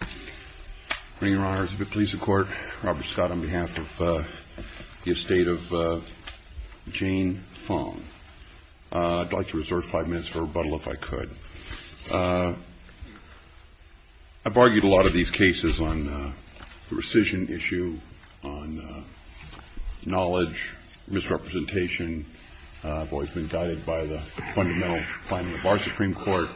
I bring your honors of the police and court, Robert Scott on behalf of the estate of Jane Fong. I'd like to reserve five minutes for rebuttal if I could. I've argued a lot of these cases on the rescission issue, on knowledge, misrepresentation. I've always been guided by the fundamental finding of our Supreme Court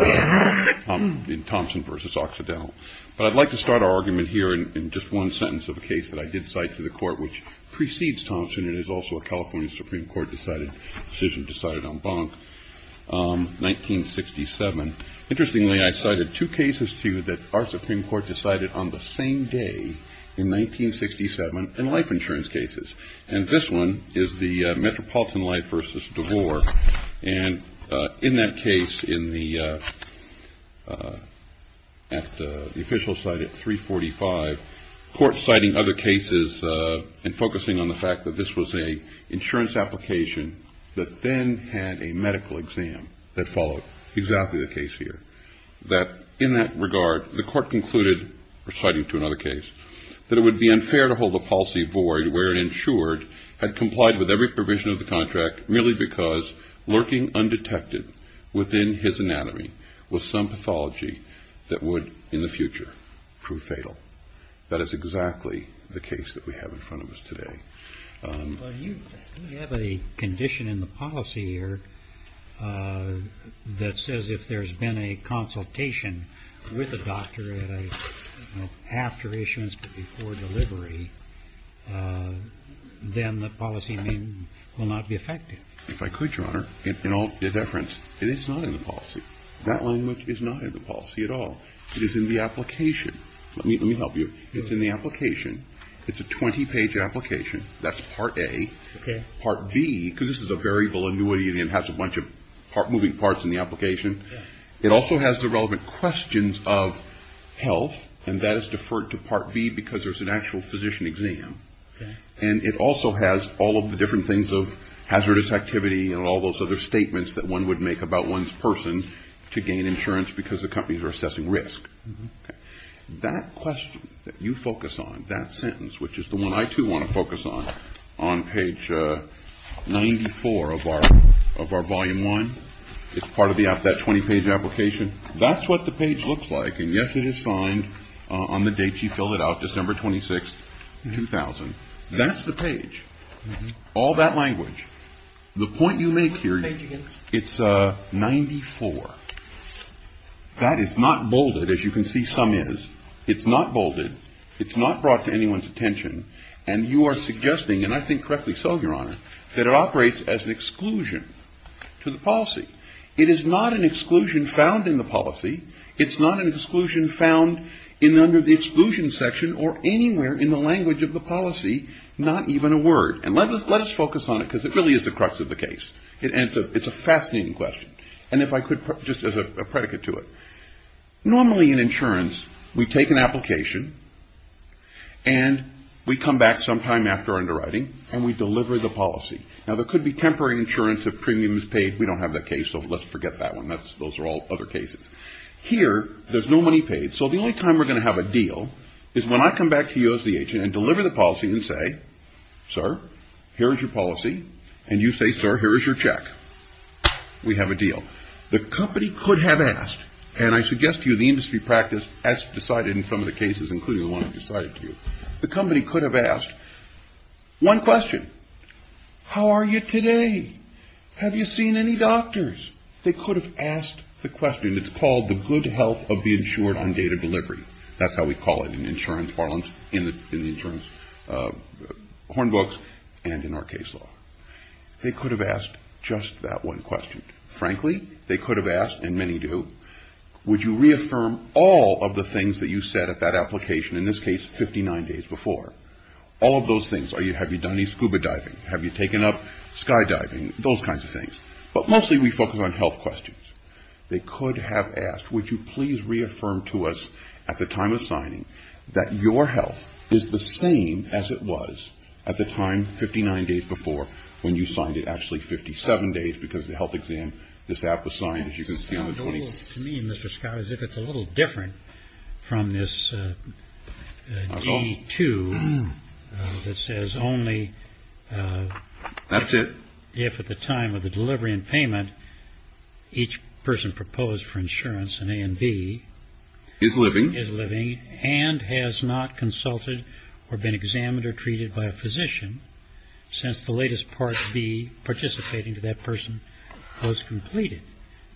in Thompson v. Occidental. But I'd like to start our argument here in just one sentence of a case that I did cite to the court, which precedes Thompson and is also a California Supreme Court decision decided on Bonk, 1967. Interestingly, I cited two cases to you that our Supreme Court decided on the same day, in 1967, in life insurance cases. And this one is the Metropolitan Life v. DeVore. And in that case, at the official site at 345, court citing other cases and focusing on the fact that this was an insurance application that then had a medical exam that followed exactly the case here, that in that regard, the court concluded, citing to another case, that it would be unfair to hold the policy void where it ensured had complied with every provision of the contract, merely because lurking undetected within his anatomy was some pathology that would, in the future, prove fatal. That is exactly the case that we have in front of us today. Well, you have a condition in the policy here that says if there's been a consultation with a doctor at a, you know, after issuance but before delivery, then the policy may not be effective. If I could, Your Honor, in all deference, it is not in the policy. That language is not in the policy at all. It is in the application. Let me help you. It's in the application. It's a 20-page application. That's Part A. Part B, because this is a variable annuity and it has a bunch of moving parts in the application, it also has the relevant questions of health, and that is deferred to Part B because there's an actual physician exam. And it also has all of the different things of hazardous activity and all those other statements that one would make about one's person to gain insurance because the companies are assessing risk. That question that you focus on, that sentence, which is the one I, too, want to focus on, on page 94 of our Volume 1, it's part of that 20-page application, that's what the page looks like. And, yes, it is signed on the date she filled it out, December 26, 2000. That's the page. All that language. The point you make here, it's 94. That is not bolded, as you can see some is. It's not bolded. It's not brought to anyone's attention. And you are suggesting, and I think correctly so, Your Honor, that it operates as an exclusion to the policy. It is not an exclusion found in the policy. It's not an exclusion found under the exclusion section or anywhere in the language of the policy, not even a word. And let us focus on it because it really is the crux of the case. It's a fascinating question. And if I could, just as a predicate to it, normally in insurance, we take an application and we come back sometime after underwriting and we deliver the policy. Now, there could be temporary insurance if premium is paid. We don't have that case, so let's forget that one. Those are all other cases. Here, there's no money paid. So the only time we're going to have a deal is when I come back to you as the agent and deliver the policy and say, Sir, here's your policy. And you say, Sir, here's your check. We have a deal. The company could have asked, and I suggest to you the industry practice as decided in some of the cases, including the one I've decided to do. The company could have asked one question. How are you today? Have you seen any doctors? They could have asked the question. It's called the good health of the insured on date of delivery. That's how we call it in insurance parlance, in the insurance horn books and in our case law. They could have asked just that one question. Frankly, they could have asked, and many do, would you reaffirm all of the things that you said at that application, in this case, 59 days before? All of those things. Have you done any scuba diving? Have you taken up skydiving? Those kinds of things. But mostly we focus on health questions. They could have asked, would you please reaffirm to us at the time of signing that your health is the same as it was at the time, 59 days before, when you signed it actually 57 days because the health exam, this app was signed, as you can see on the 20s. To me, Mr. Scott, as if it's a little different from this D2 that says only. That's it. If at the time of the delivery and payment, each person proposed for insurance in A and B. Is living. Is living and has not consulted or been examined or treated by a physician since the latest Part B participating to that person was completed.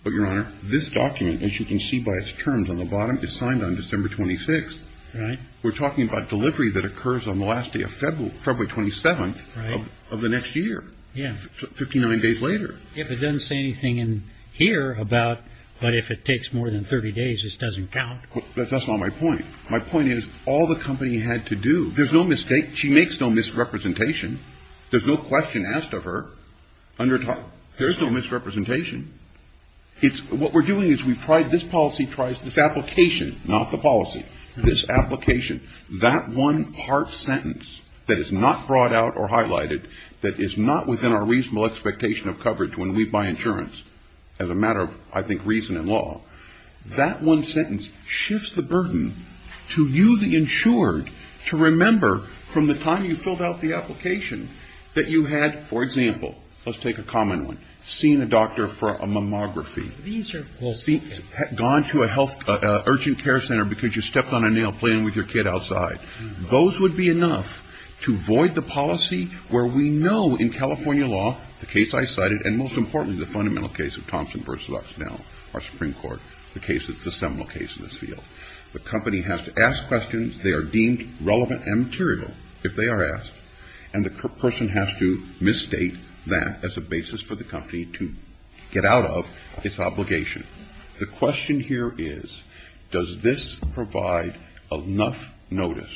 But Your Honor, this document, as you can see by its terms on the bottom, is signed on December 26th. Right. We're talking about delivery that occurs on the last day of February 27th of the next year. Yeah. 59 days later. If it doesn't say anything in here about, but if it takes more than 30 days, this doesn't count. That's not my point. My point is all the company had to do. There's no mistake. She makes no misrepresentation. There's no question asked of her. There's no misrepresentation. It's what we're doing is we've tried this policy twice. This application, not the policy. This application, that one part sentence that is not brought out or highlighted, that is not within our reasonable expectation of coverage when we buy insurance. As a matter of, I think, reason and law. That one sentence shifts the burden to you, the insured, to remember from the time you filled out the application that you had, for example. Let's take a common one. Seeing a doctor for a mammography. These are. We'll see. Gone to a health urgent care center because you stepped on a nail playing with your kid outside. Those would be enough to void the policy where we know in California law, the case I cited, and most importantly, the fundamental case of Thompson versus Oxnell, our Supreme Court, the case that's the seminal case in this field. The company has to ask questions. They are deemed relevant and material if they are asked. And the person has to misstate that as a basis for the company to get out of its obligation. The question here is, does this provide enough notice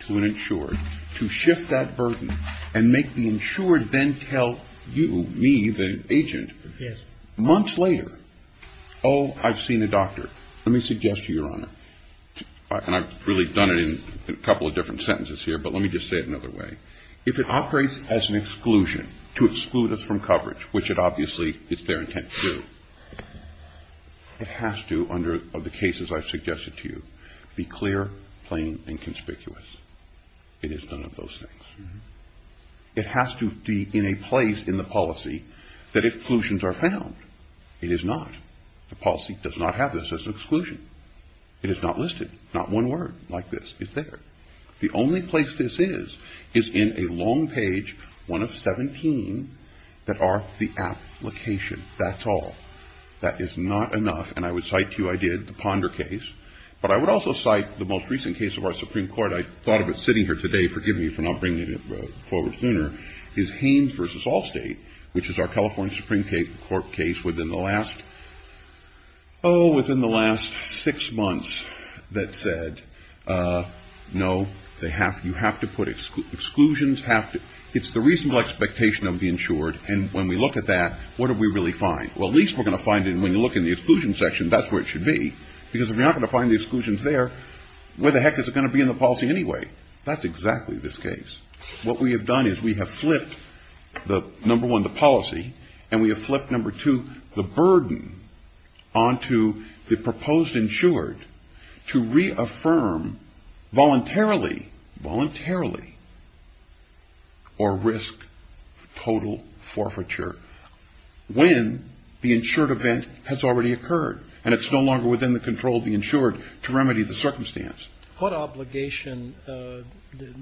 to an insured to shift that burden and make the insured then tell you, me, the agent. Yes. Months later, oh, I've seen a doctor. Let me suggest to you, Your Honor. And I've really done it in a couple of different sentences here, but let me just say it another way. If it operates as an exclusion to exclude us from coverage, which it obviously is their intent to. It has to, under the cases I've suggested to you, be clear, plain and conspicuous. It is none of those things. It has to be in a place in the policy that exclusions are found. It is not. The policy does not have this as an exclusion. It is not listed. Not one word like this. It's there. The only place this is, is in a long page, one of 17, that are the application. That's all. That is not enough. And I would cite to you, I did, the Ponder case. But I would also cite the most recent case of our Supreme Court. I thought of it sitting here today. Forgive me for not bringing it forward sooner. Haines v. Allstate, which is our California Supreme Court case, within the last, oh, within the last six months, that said, no, you have to put exclusions. It's the reasonable expectation of the insured. And when we look at that, what do we really find? Well, at least we're going to find it, and when you look in the exclusion section, that's where it should be. Because if you're not going to find the exclusions there, where the heck is it going to be in the policy anyway? That's exactly this case. What we have done is we have flipped, number one, the policy, and we have flipped, number two, the burden onto the proposed insured to reaffirm voluntarily, voluntarily, or risk total forfeiture when the insured event has already occurred, and it's no longer within the control of the insured to remedy the circumstance. What obligation did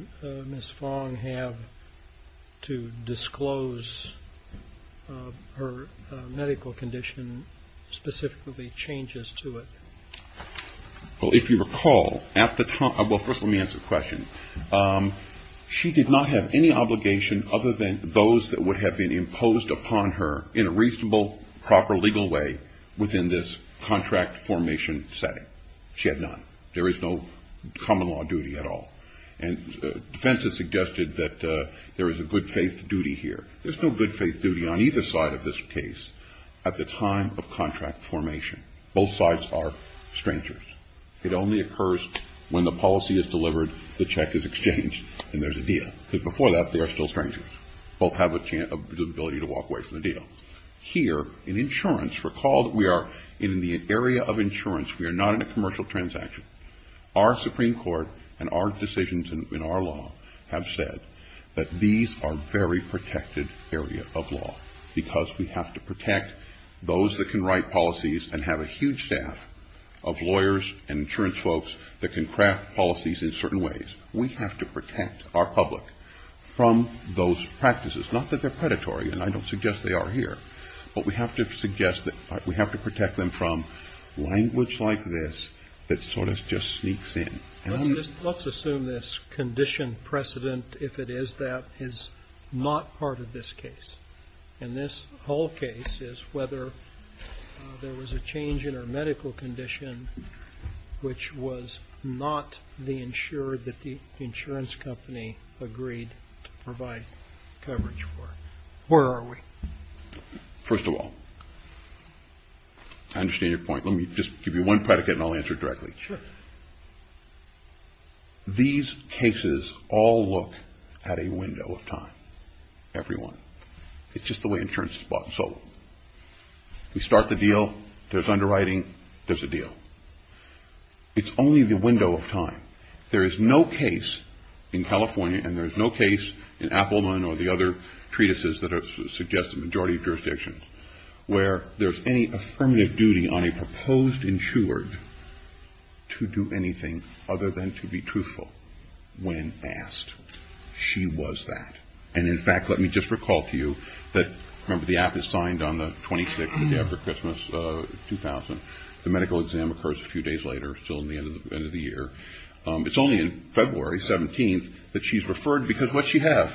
Ms. Fong have to disclose her medical condition, specifically changes to it? Well, if you recall, at the time, well, first let me answer the question. She did not have any obligation other than those that would have been imposed upon her in a reasonable, proper, legal way within this contract formation setting. She had none. There is no common law duty at all. And defense has suggested that there is a good faith duty here. There's no good faith duty on either side of this case at the time of contract formation. Both sides are strangers. It only occurs when the policy is delivered, the check is exchanged, and there's a deal. Because before that, they are still strangers. Both have the ability to walk away from the deal. Here, in insurance, recall that we are in the area of insurance. We are not in a commercial transaction. Our Supreme Court and our decisions in our law have said that these are very protected areas of law, because we have to protect those that can write policies and have a huge staff of lawyers and insurance folks that can craft policies in certain ways. We have to protect our public from those practices. Not that they're predatory, and I don't suggest they are here. But we have to suggest that we have to protect them from language like this that sort of just sneaks in. Let's assume this condition precedent, if it is that, is not part of this case. And this whole case is whether there was a change in our medical condition, which was not the insured that the insurance company agreed to provide coverage for. Where are we? First of all, I understand your point. Let me just give you one predicate and I'll answer it directly. Sure. These cases all look at a window of time. Everyone. It's just the way insurance is bought and sold. We start the deal. There's underwriting. There's a deal. It's only the window of time. There is no case in California, and there is no case in Appleman or the other treatises that suggest a majority of jurisdictions, where there's any affirmative duty on a proposed insured to do anything other than to be truthful when asked. She was that. And, in fact, let me just recall to you that, remember, the app is signed on the 26th of every Christmas, 2000. The medical exam occurs a few days later, still in the end of the year. It's only in February 17th that she's referred, because what does she have?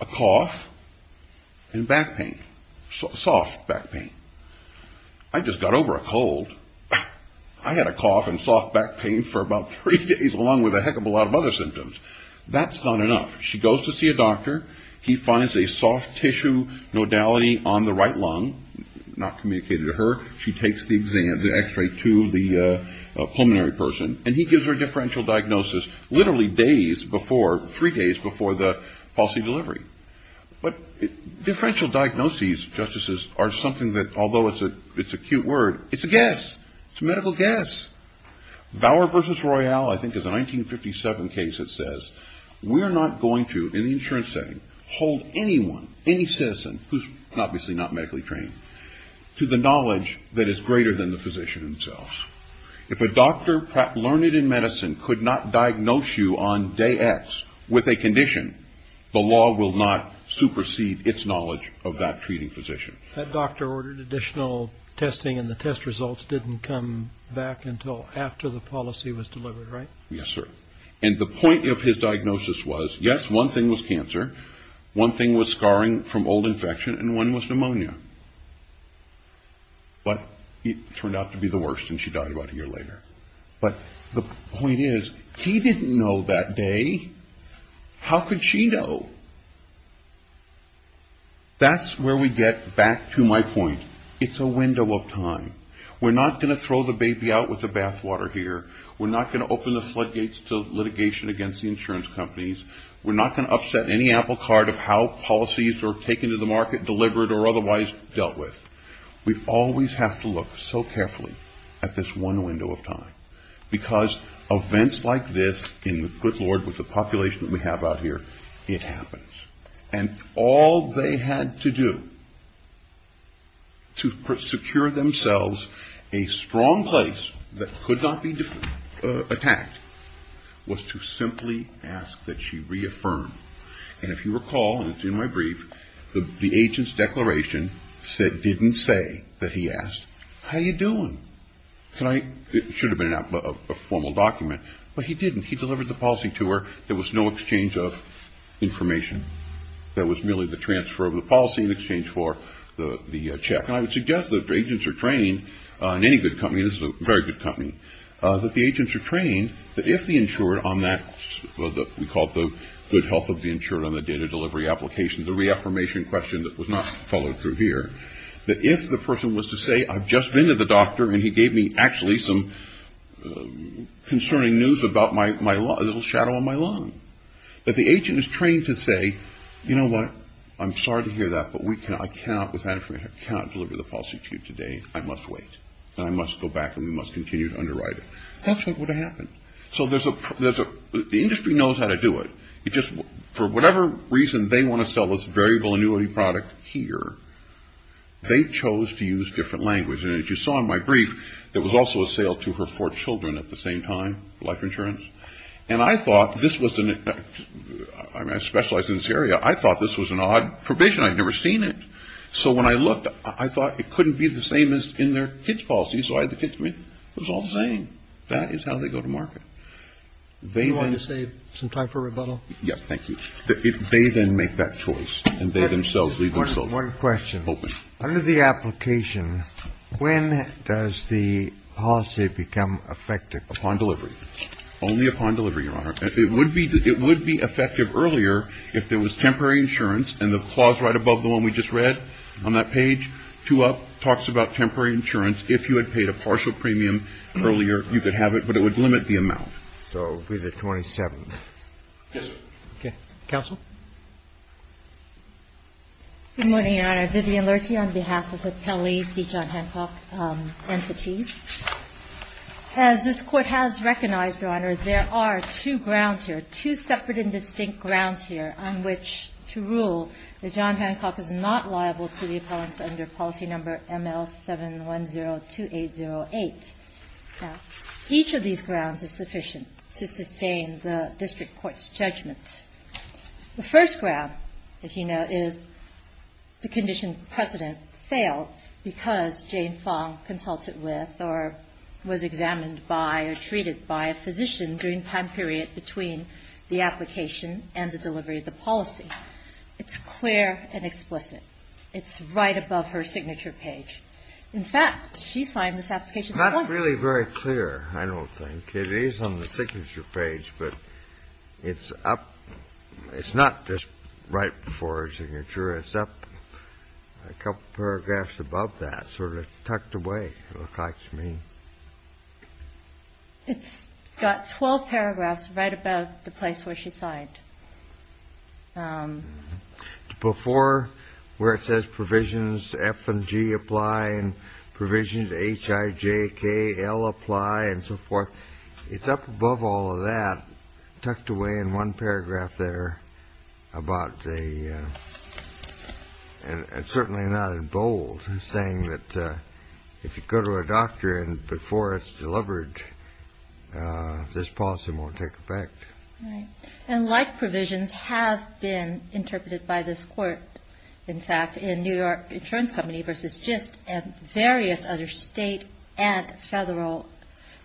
A cough and back pain. Soft back pain. I just got over a cold. I had a cough and soft back pain for about three days, along with a heck of a lot of other symptoms. That's not enough. She goes to see a doctor. He finds a soft tissue nodality on the right lung, not communicated to her. She takes the X-ray to the pulmonary person, and he gives her a differential diagnosis literally days before, three days before the policy delivery. But differential diagnoses, Justices, are something that, although it's a cute word, it's a guess. It's a medical guess. Bauer v. Royall, I think it's a 1957 case that says, We're not going to, in the insurance setting, hold anyone, any citizen, who's obviously not medically trained, to the knowledge that is greater than the physician himself. If a doctor, perhaps learned in medicine, could not diagnose you on day X with a condition, the law will not supersede its knowledge of that treating physician. That doctor ordered additional testing, and the test results didn't come back until after the policy was delivered, right? Yes, sir. And the point of his diagnosis was, yes, one thing was cancer. One thing was scarring from old infection, and one was pneumonia. But it turned out to be the worst, and she died about a year later. But the point is, he didn't know that day. How could she know? That's where we get back to my point. It's a window of time. We're not going to throw the baby out with the bathwater here. We're not going to open the floodgates to litigation against the insurance companies. We're not going to upset any apple cart of how policies are taken to the market, delivered, or otherwise dealt with. We always have to look so carefully at this one window of time. Because events like this, in the good Lord, with the population that we have out here, it happens. And all they had to do to secure themselves a strong place that could not be attacked was to simply ask that she reaffirm. And if you recall, in my brief, the agent's declaration didn't say that he asked, how you doing? It should have been a formal document, but he didn't. He delivered the policy to her. There was no exchange of information. That was merely the transfer of the policy in exchange for the check. And I would suggest that the agents are trained in any good company. This is a very good company. That the agents are trained that if the insurer on that, we call it the good health of the insurer on the data delivery application, the reaffirmation question that was not followed through here, that if the person was to say, I've just been to the doctor and he gave me actually some concerning news about a little shadow on my lung. That the agent is trained to say, you know what? I'm sorry to hear that, but I cannot deliver the policy to you today. I must wait. And I must go back and we must continue to underwrite it. That's not what happened. So the industry knows how to do it. Just for whatever reason, they want to sell this variable annuity product here. They chose to use different language. And as you saw in my brief, there was also a sale to her four children at the same time, life insurance. And I thought this was, I specialize in this area. I thought this was an odd provision. I'd never seen it. So when I looked, I thought it couldn't be the same as in their kids policy. So I had the kids, it was all the same. That is how they go to market. They want to save some time for rebuttal. Yep. Thank you. If they then make that choice and they themselves leave. So one question under the application, when does the policy become effective upon delivery? Only upon delivery. Your Honor, it would be it would be effective earlier if there was temporary insurance. And the clause right above the one we just read on that page to up talks about temporary insurance. If you had paid a partial premium earlier, you could have it, but it would limit the amount. So it would be the 27th. Yes, sir. Okay. Counsel. Good morning, Your Honor. Vivian Lurti on behalf of Appellee C. John Hancock Entities. As this Court has recognized, Your Honor, there are two grounds here, two separate and distinct grounds here on which to rule that John Hancock is not liable to the appellants under policy number ML7102808. Now, each of these grounds is sufficient to sustain the district court's judgment. The first ground, as you know, is the condition precedent failed because Jane Fong consulted with or was examined by or treated by a physician during the time period between the application and the delivery of the policy. It's clear and explicit. It's right above her signature page. In fact, she signed this application. It's not really very clear, I don't think. It is on the signature page, but it's up. It's not just right before her signature. It's up a couple paragraphs above that, sort of tucked away, it looks like to me. It's got 12 paragraphs right above the place where she signed. Before, where it says provisions F and G apply and provisions H, I, J, K, L apply and so forth. It's up above all of that, tucked away in one paragraph there about the and certainly not in bold, saying that if you go to a doctor and before it's delivered, this policy won't take effect. And like provisions have been interpreted by this court, in fact, in New York Insurance Company versus GIST and various other state and federal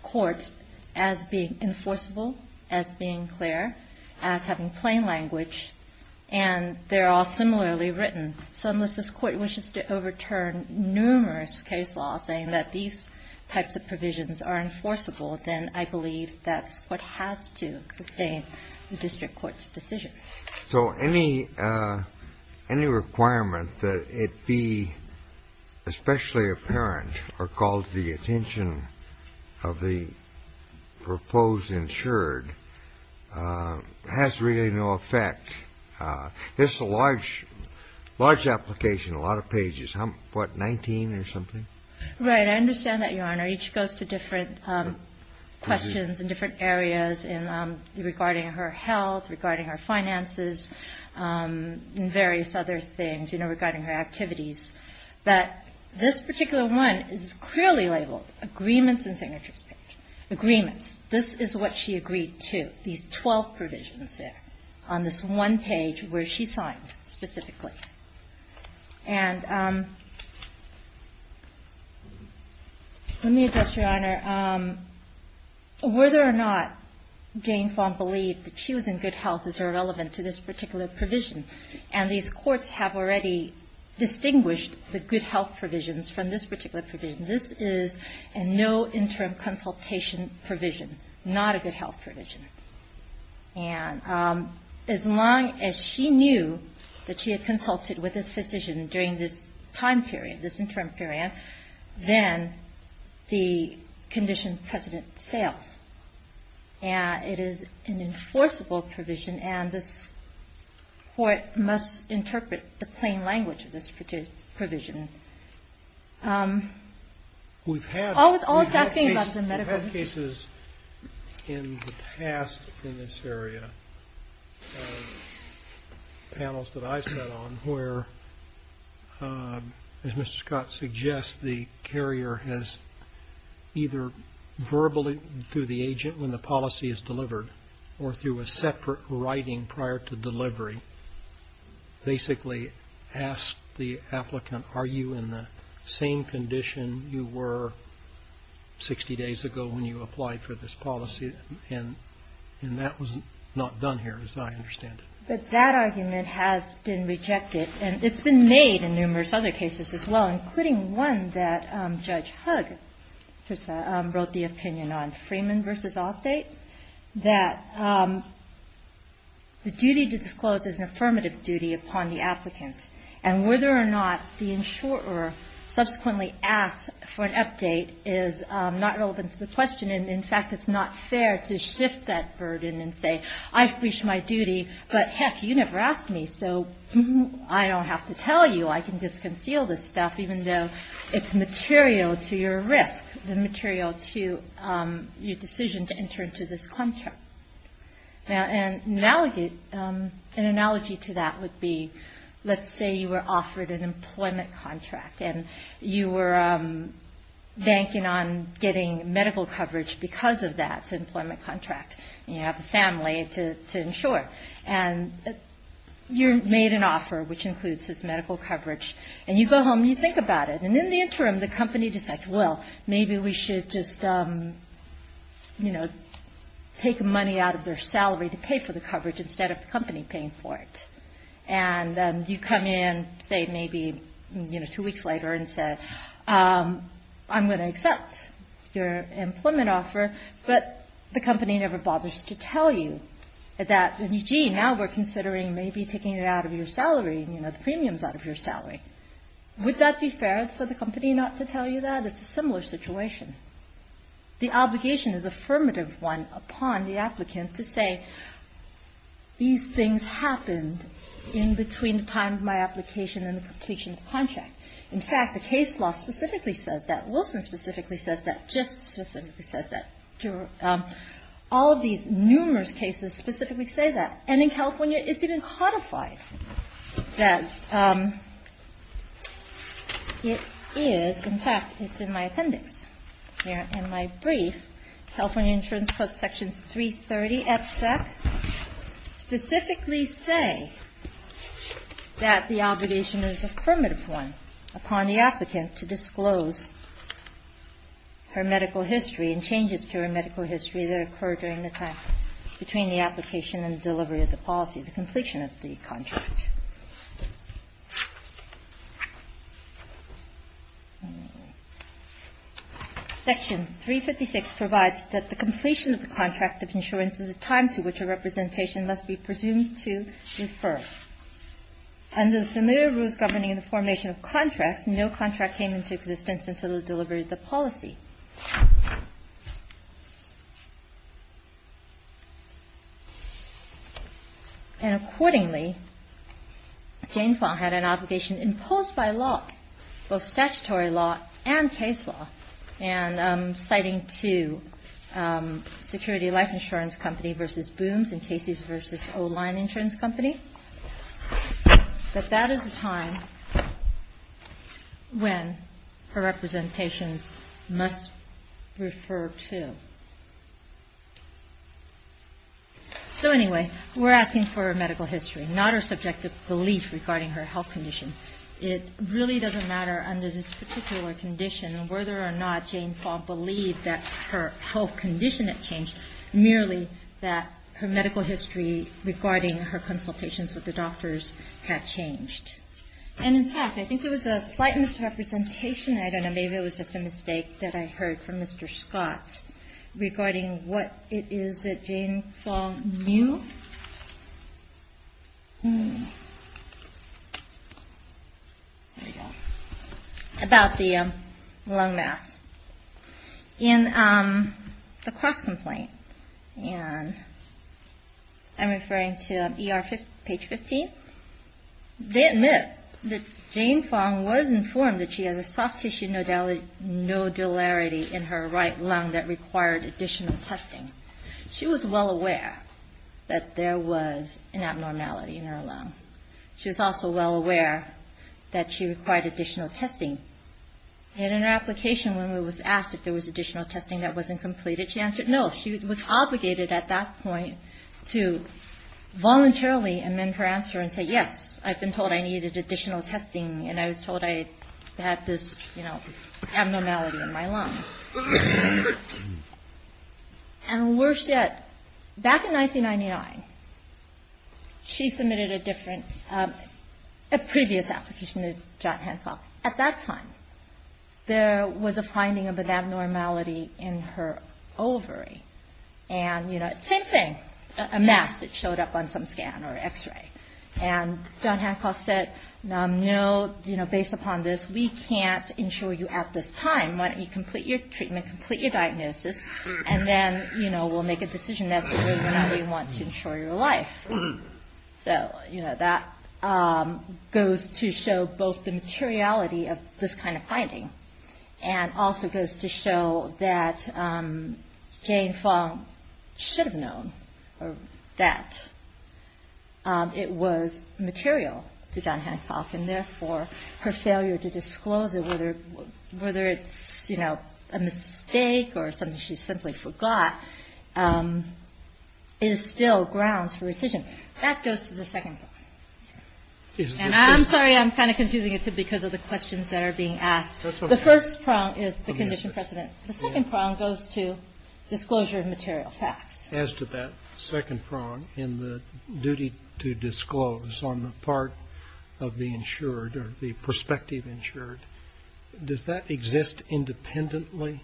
courts as being enforceable, as being clear, as having plain language, and they're all similarly written. So unless this court wishes to overturn numerous case laws saying that these types of provisions are enforceable, then I believe that this court has to sustain the district court's decision. So any requirement that it be especially apparent or called to the attention of the proposed insured has really no effect. This is a large application, a lot of pages. What, 19 or something? Right. I understand that, Your Honor. Each goes to different questions in different areas regarding her health, regarding her finances, and various other things, you know, regarding her activities. But this particular one is clearly labeled agreements and signatures. Agreements. This is what she agreed to, these 12 provisions there on this one page where she signed specifically. And let me address, Your Honor. Whether or not Jane Fong believed that she was in good health is irrelevant to this particular provision. And these courts have already distinguished the good health provisions from this particular provision. This is a no interim consultation provision, not a good health provision. And as long as she knew that she had consulted with this physician during this time period, this interim period, then the condition precedent fails. And it is an enforceable provision, and this court must interpret the plain language of this provision. We've had cases in the past in this area of panels that I've sat on where, as Mr. Scott suggests, the carrier has either verbally, through the agent when the policy is delivered, or through a separate writing prior to delivery, basically ask the applicant, are you in the same condition you were 60 days ago when you applied for this policy? And that was not done here, as I understand it. But that argument has been rejected, and it's been made in numerous other cases as well, including one that Judge Hugg wrote the opinion on, Freeman v. Allstate, that the duty to disclose is an affirmative duty upon the applicant. And whether or not the insurer subsequently asks for an update is not relevant to the question. And, in fact, it's not fair to shift that burden and say, I've reached my duty, but, heck, you never asked me, so I don't have to tell you, I can just conceal this stuff, even though it's material to your risk, the material to your decision to enter into this contract. Now, an analogy to that would be, let's say you were offered an employment contract, and you were banking on getting medical coverage because of that employment contract, and you have a family to insure, and you're made an offer, which includes this medical coverage, and you go home and you think about it, and in the interim, the company decides, well, maybe we should just take money out of their salary to pay for the coverage instead of the company paying for it. And you come in, say, maybe two weeks later and say, I'm going to accept your employment offer, but the company never bothers to tell you that, gee, now we're considering maybe taking it out of your salary, you know, the premiums out of your salary. Would that be fair for the company not to tell you that? It's a similar situation. The obligation is affirmative one upon the applicant to say, these things happened in between the time of my application and the completion of the contract. In fact, the case law specifically says that. All of these numerous cases specifically say that. And in California, it's even codified that it is. In fact, it's in my appendix here in my brief. California Insurance Code Sections 330 FSEC specifically say that the obligation is affirmative one upon the applicant to disclose her medical history and changes to her medical history that occurred during the time between the application and delivery of the policy, the completion of the contract. Section 356 provides that the completion of the contract of insurance is a time to which a representation must be presumed to refer. Under the familiar rules governing the formation of contracts, no contract came into existence until it delivered the policy. And accordingly, Jane Fong had an obligation imposed by law, both statutory law and case law, and citing two, Security Life Insurance Company v. Booms and Casey's v. O-Line Insurance Company. But that is a time when her representations must refer to. So anyway, we're asking for her medical history, not her subjective belief regarding her health condition. It really doesn't matter under this particular condition whether or not Jane Fong believed that her health condition had changed, merely that her medical history regarding her consultations with the doctors had changed. And in fact, I think there was a slight misrepresentation, I don't know, maybe it was just a mistake, that I heard from Mr. Scott regarding what it is that Jane Fong knew. There we go. About the lung mass. In the cross-complaint, and I'm referring to ER page 15, they admit that Jane Fong was informed that she has a soft tissue nodularity in her right lung that required additional testing. She was well aware that there was an abnormality in her lung. She was also well aware that she required additional testing. And in her application, when we were asked if there was additional testing that wasn't completed, she answered no. She was obligated at that point to voluntarily amend her answer and say, yes, I've been told I needed additional testing and I was told I had this, you know, abnormality in my lung. And worse yet, back in 1999, she submitted a different, a previous application to John Hancock. At that time, there was a finding of an abnormality in her ovary. And, you know, same thing, a mass that showed up on some scan or x-ray. And John Hancock said, no, based upon this, we can't insure you at this time. Why don't you complete your treatment, complete your diagnosis, and then, you know, we'll make a decision as to whether or not we want to insure your life. So, you know, that goes to show both the materiality of this kind of finding and also goes to show that Jane Fong should have known that it was material to John Hancock and therefore her failure to disclose it, whether it's, you know, a mistake or something she simply forgot, is still grounds for rescission. That goes to the second prong. And I'm sorry, I'm kind of confusing it because of the questions that are being asked. The first prong is the condition precedent. The second prong goes to disclosure of material facts. As to that second prong in the duty to disclose on the part of the insured or the prospective insured, does that exist independently?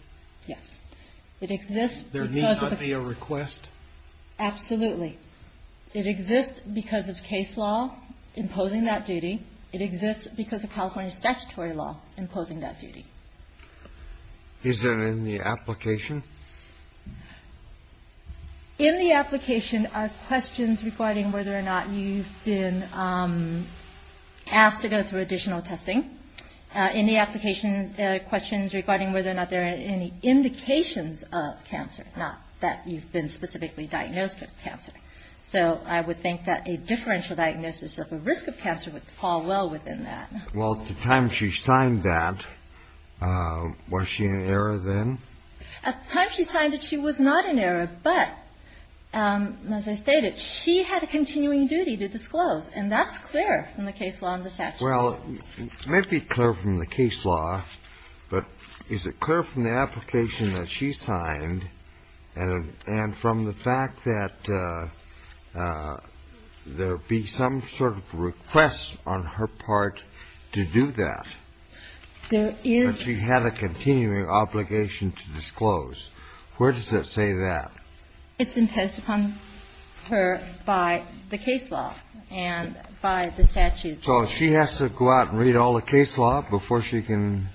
Yes. It exists because of the request? Absolutely. It exists because of case law imposing that duty. It exists because of California statutory law imposing that duty. Is there any application? In the application are questions regarding whether or not you've been asked to go through additional testing. In the application are questions regarding whether or not there are any indications of cancer, not that you've been specifically diagnosed with cancer. So I would think that a differential diagnosis of a risk of cancer would fall well within that. Well, at the time she signed that, was she in error then? At the time she signed it, she was not in error. But as I stated, she had a continuing duty to disclose. And that's clear in the case law and the statute. Well, it may be clear from the case law, but is it clear from the application that she signed and from the fact that there be some sort of request on her part to do that? There is. But she had a continuing obligation to disclose. Where does it say that? It's imposed upon her by the case law and by the statute. So she has to go out and read all the case law before she can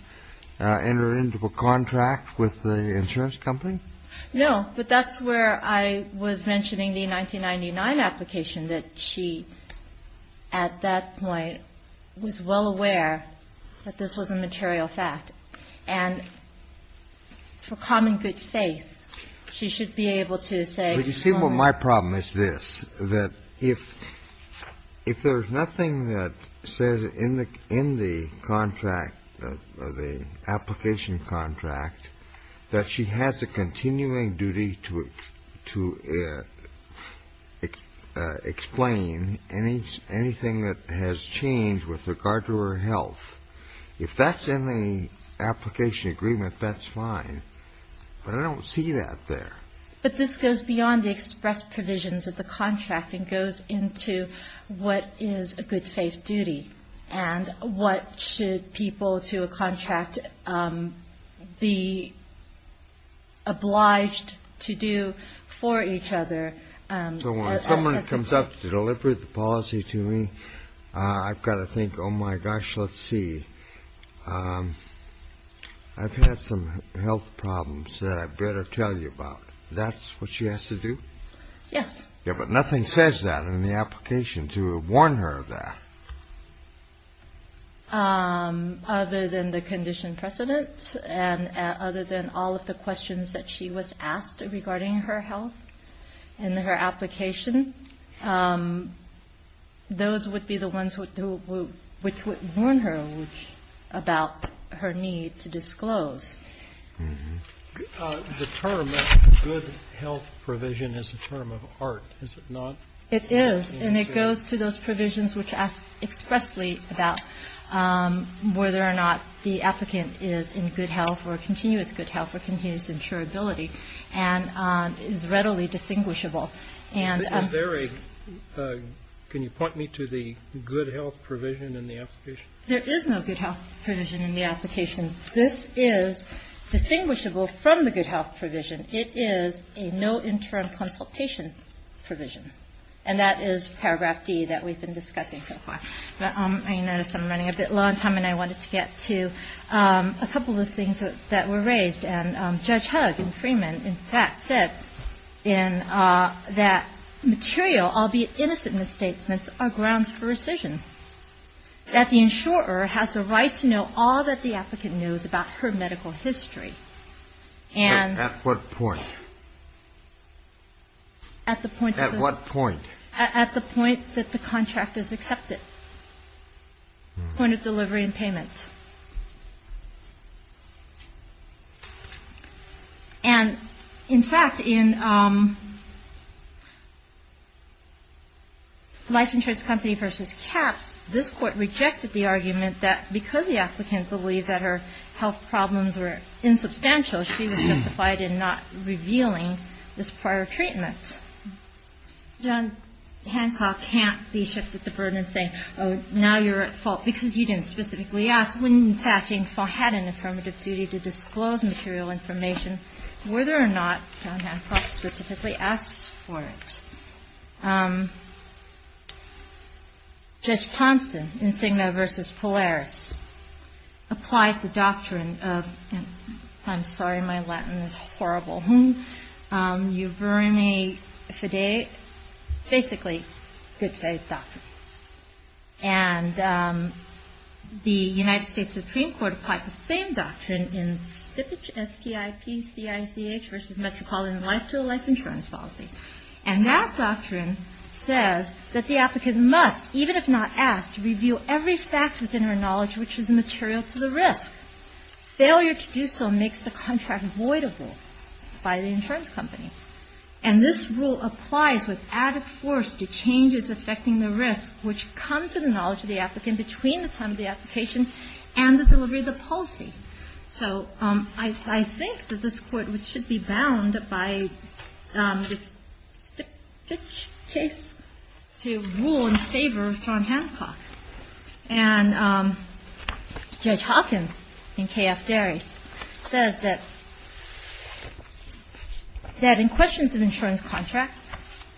enter into a contract with the insurance company? No. But that's where I was mentioning the 1999 application, that she, at that point, was well aware that this was a material fact. And for common good faith, she should be able to say. But you see what my problem is this, that if there's nothing that says in the contract, the application contract, that she has a continuing duty to explain anything that has changed with regard to her health, if that's in the application agreement, that's fine. But I don't see that there. But this goes beyond the express provisions of the contract and goes into what is a good faith duty and what should people to a contract be obliged to do for each other. So when someone comes up to deliver the policy to me, I've got to think, oh, my gosh, let's see. I've had some health problems that I better tell you about. That's what she has to do? Yes. Yeah, but nothing says that in the application to warn her of that. Other than the condition precedent and other than all of the questions that she was asked regarding her health and her application, those would be the ones which would warn her about her need to disclose. The term good health provision is a term of art, is it not? It is. And it goes to those provisions which ask expressly about whether or not the applicant is in good health or continuous insurability and is readily distinguishable. Can you point me to the good health provision in the application? There is no good health provision in the application. This is distinguishable from the good health provision. It is a no interim consultation provision. And that is paragraph D that we've been discussing so far. I notice I'm running a bit low on time, and I wanted to get to a couple of things that were raised. And Judge Hugg in Freeman, in fact, said in that material, albeit innocent in the statements, are grounds for rescission, that the insurer has the right to know all that the applicant knows about her medical history. At what point? At the point of the At what point? At the point that the contract is accepted, point of delivery and payment. And, in fact, in Life Insurance Company v. Katz, this Court rejected the argument that because the applicant believed that her health problems were insubstantial, she was justified in not revealing this prior treatment. John Hancock can't be shipped at the burden of saying, oh, now you're at fault, because you didn't specifically ask when, in fact, you had an affirmative duty to disclose material information, whether or not John Hancock specifically asked for it. Judge Thompson in Cigna v. Polaris applied the doctrine of, I'm sorry, my Latin is horrible, basically, good faith doctrine. And the United States Supreme Court applied the same doctrine in Stippich v. Metropolitan Life-to-Life Insurance Policy. And that doctrine says that the applicant must, even if not asked, review every fact within her knowledge which is material to the risk. Failure to do so makes the contract voidable by the insurance company. And this rule applies with added force to changes affecting the risk, which comes to the knowledge of the applicant between the time of the application and the delivery of the policy. So I think that this Court should be bound by this Stippich case to rule in favor of John Hancock. And Judge Hopkins in K.F. Daris says that in questions of insurance contract,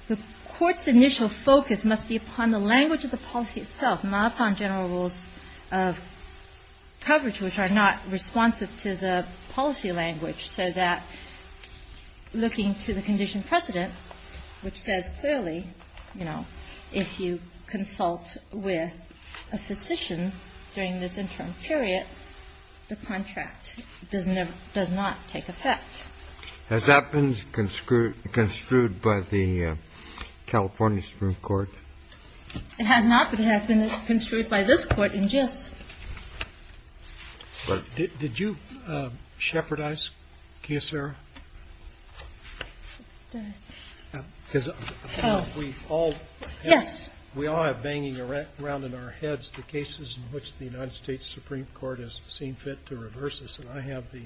the Court's initial focus must be upon the language of the policy itself, not upon general rules of coverage, which are not responsive to the policy language, so that looking to the condition precedent, which says clearly, you know, if you consult with a physician during this interim period, the contract does not take effect. Has that been construed by the California Supreme Court? It has not, but it has been construed by this Court in gist. Did you shepherdize Kiyosara? Because we all have banging around in our heads the cases in which the United States Supreme Court has seen fit to reverse this, and I have the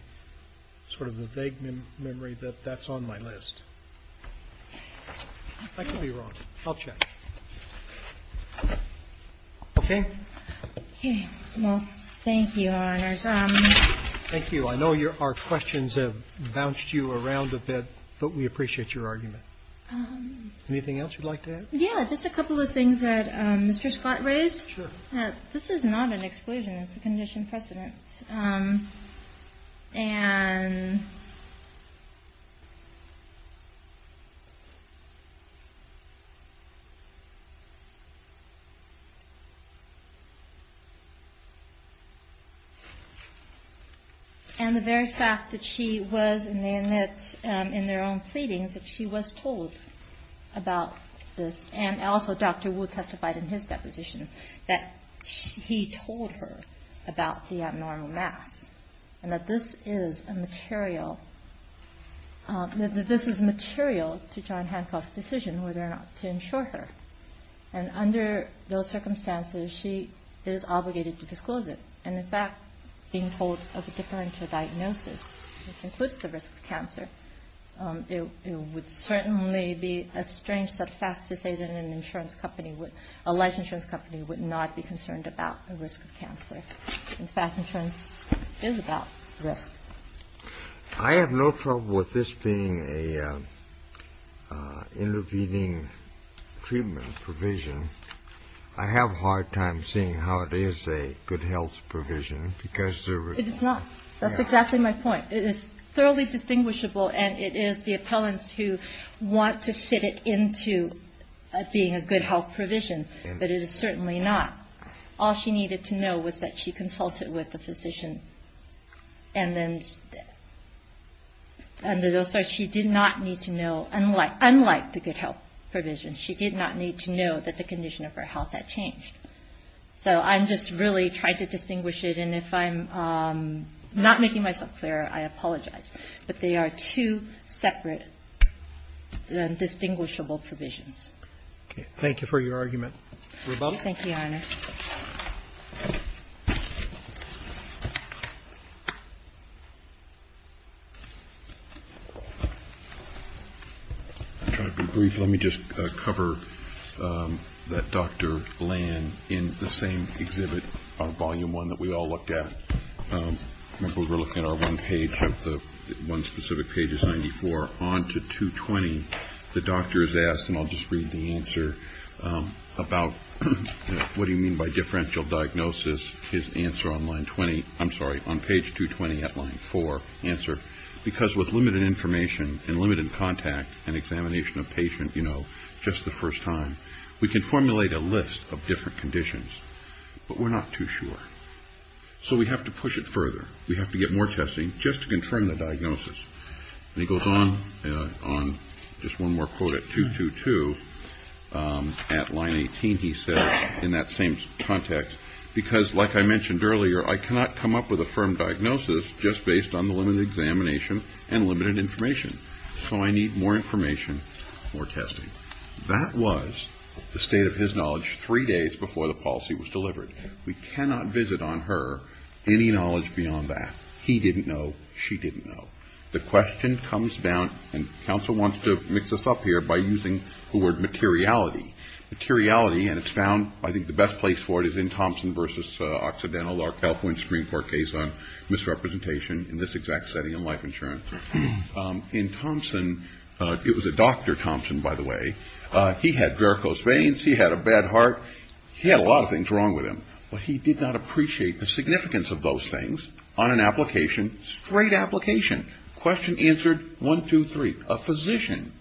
sort of the vague memory that that's on my list. I could be wrong. I'll check. Okay? Well, thank you, Your Honors. Thank you. I know our questions have bounced you around a bit, but we appreciate your argument. Anything else you'd like to add? Yeah. Just a couple of things that Mr. Scott raised. Sure. This is not an exclusion. It's a condition precedent. And the very fact that she was in their own pleadings, that she was told about this, and also Dr. Woo testified in his deposition that he told her about the abnormal mass, and that this is material to John Hancock's decision whether or not to insure her. And under those circumstances, she is obligated to disclose it. And in fact, being told of a differential diagnosis, which includes the risk of cancer, it would certainly be a strange set of facts to say that a life insurance company would not be concerned about the risk of cancer. In fact, insurance is about risk. I have no problem with this being an intervening treatment provision. I have a hard time seeing how it is a good health provision because there is not. It is not. That's exactly my point. It is thoroughly distinguishable, and it is the appellants who want to fit it into being a good health provision. But it is certainly not. All she needed to know was that she consulted with the physician. And then she did not need to know, unlike the good health provision, she did not need to know that the condition of her health had changed. So I'm just really trying to distinguish it. And if I'm not making myself clear, I apologize. But they are two separate distinguishable provisions. Okay. Thank you for your argument. Thank you, Your Honor. I'll try to be brief. Let me just cover that Dr. Lan in the same exhibit on volume one that we all looked at. Remember, we were looking at our one page, one specific page is 94. On to 220, the doctor is asked, and I'll just read the answer, about what do you mean by differential diagnosis? His answer on line 20, I'm sorry, on page 220 at line four, answer, because with limited information and limited contact and examination of patient, you know, just the first time, we can formulate a list of different conditions. But we're not too sure. So we have to push it further. We have to get more testing just to confirm the diagnosis. And he goes on, just one more quote at 222, at line 18 he says, in that same context, because like I mentioned earlier, I cannot come up with a firm diagnosis just based on the limited examination and limited information. So I need more information, more testing. That was the state of his knowledge three days before the policy was delivered. We cannot visit on her any knowledge beyond that. He didn't know. She didn't know. The question comes down, and counsel wants to mix this up here by using the word materiality. Materiality, and it's found, I think the best place for it is in Thompson versus Occidental, our California Supreme Court case on misrepresentation in this exact setting in life insurance. In Thompson, it was a Dr. Thompson, by the way. He had varicose veins. He had a bad heart. He had a lot of things wrong with him. But he did not appreciate the significance of those things on an application, straight application. Question answered, one, two, three, a physician.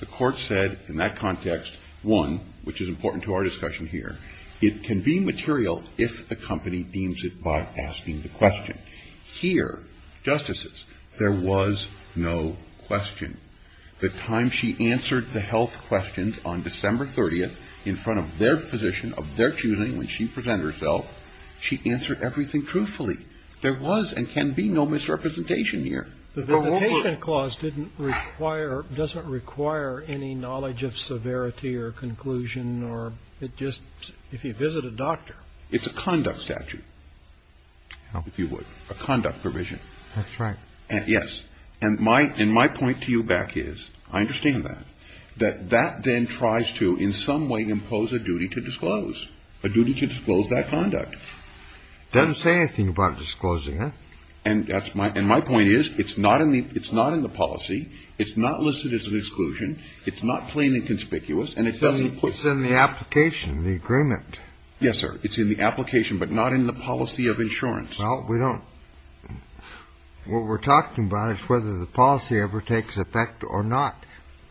The court said in that context, one, which is important to our discussion here, it can be material if the company deems it by asking the question. Here, justices, there was no question. The time she answered the health questions on December 30th in front of their physician of their choosing, when she presented herself, she answered everything truthfully. There was and can be no misrepresentation here. The visitation clause didn't require, doesn't require any knowledge of severity or conclusion, or it just, if you visit a doctor. It's a conduct statute, if you would, a conduct provision. That's right. Yes. And my point to you back is, I understand that, that that then tries to in some way impose a duty to disclose, a duty to disclose that conduct. It doesn't say anything about disclosing it. And that's my, and my point is, it's not in the, it's not in the policy. It's not listed as an exclusion. It's not plain and conspicuous. And it doesn't. It's in the application, the agreement. Yes, sir. It's in the application, but not in the policy of insurance. Well, we don't, what we're talking about is whether the policy ever takes effect or not.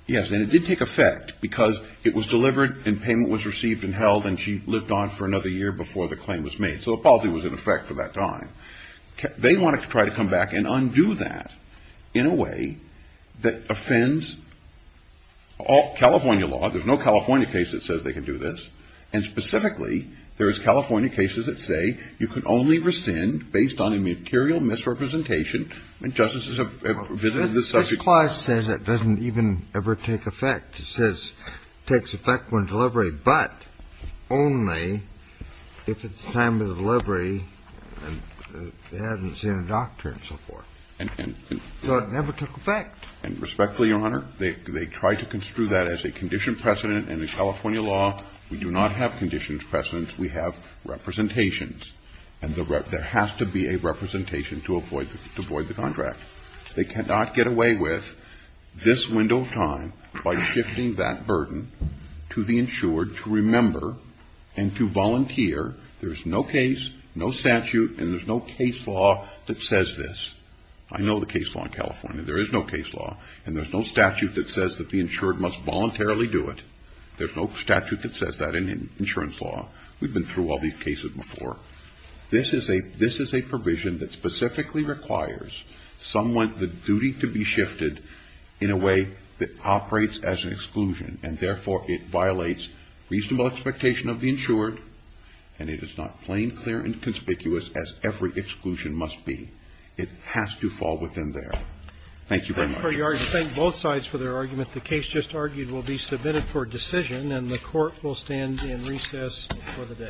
Yes. And it did take effect because it was delivered and payment was received and held and she lived on for another year before the claim was made. So the policy was in effect for that time. They wanted to try to come back and undo that in a way that offends all California law. There's no California case that says they can do this. And specifically, there is California cases that say you can only rescind based on a material misrepresentation. And justices have visited this subject. This clause says it doesn't even ever take effect. It says it takes effect when delivered, but only if it's time of delivery and they haven't seen a doctor and so forth. So it never took effect. And respectfully, Your Honor, they tried to construe that as a condition precedent. And in California law, we do not have condition precedents. We have representations. And there has to be a representation to avoid the contract. They cannot get away with this window of time by shifting that burden to the insured to remember and to volunteer. There's no case, no statute, and there's no case law that says this. I know the case law in California. There is no case law and there's no statute that says that the insured must voluntarily do it. There's no statute that says that in insurance law. We've been through all these cases before. This is a provision that specifically requires somewhat the duty to be shifted in a way that operates as an exclusion and, therefore, it violates reasonable expectation of the insured and it is not plain, clear, and conspicuous as every exclusion must be. It has to fall within there. Thank you very much. Roberts. Roberts. Thank both sides for their argument. The case just argued will be submitted for decision and the court will stand in recess for the day.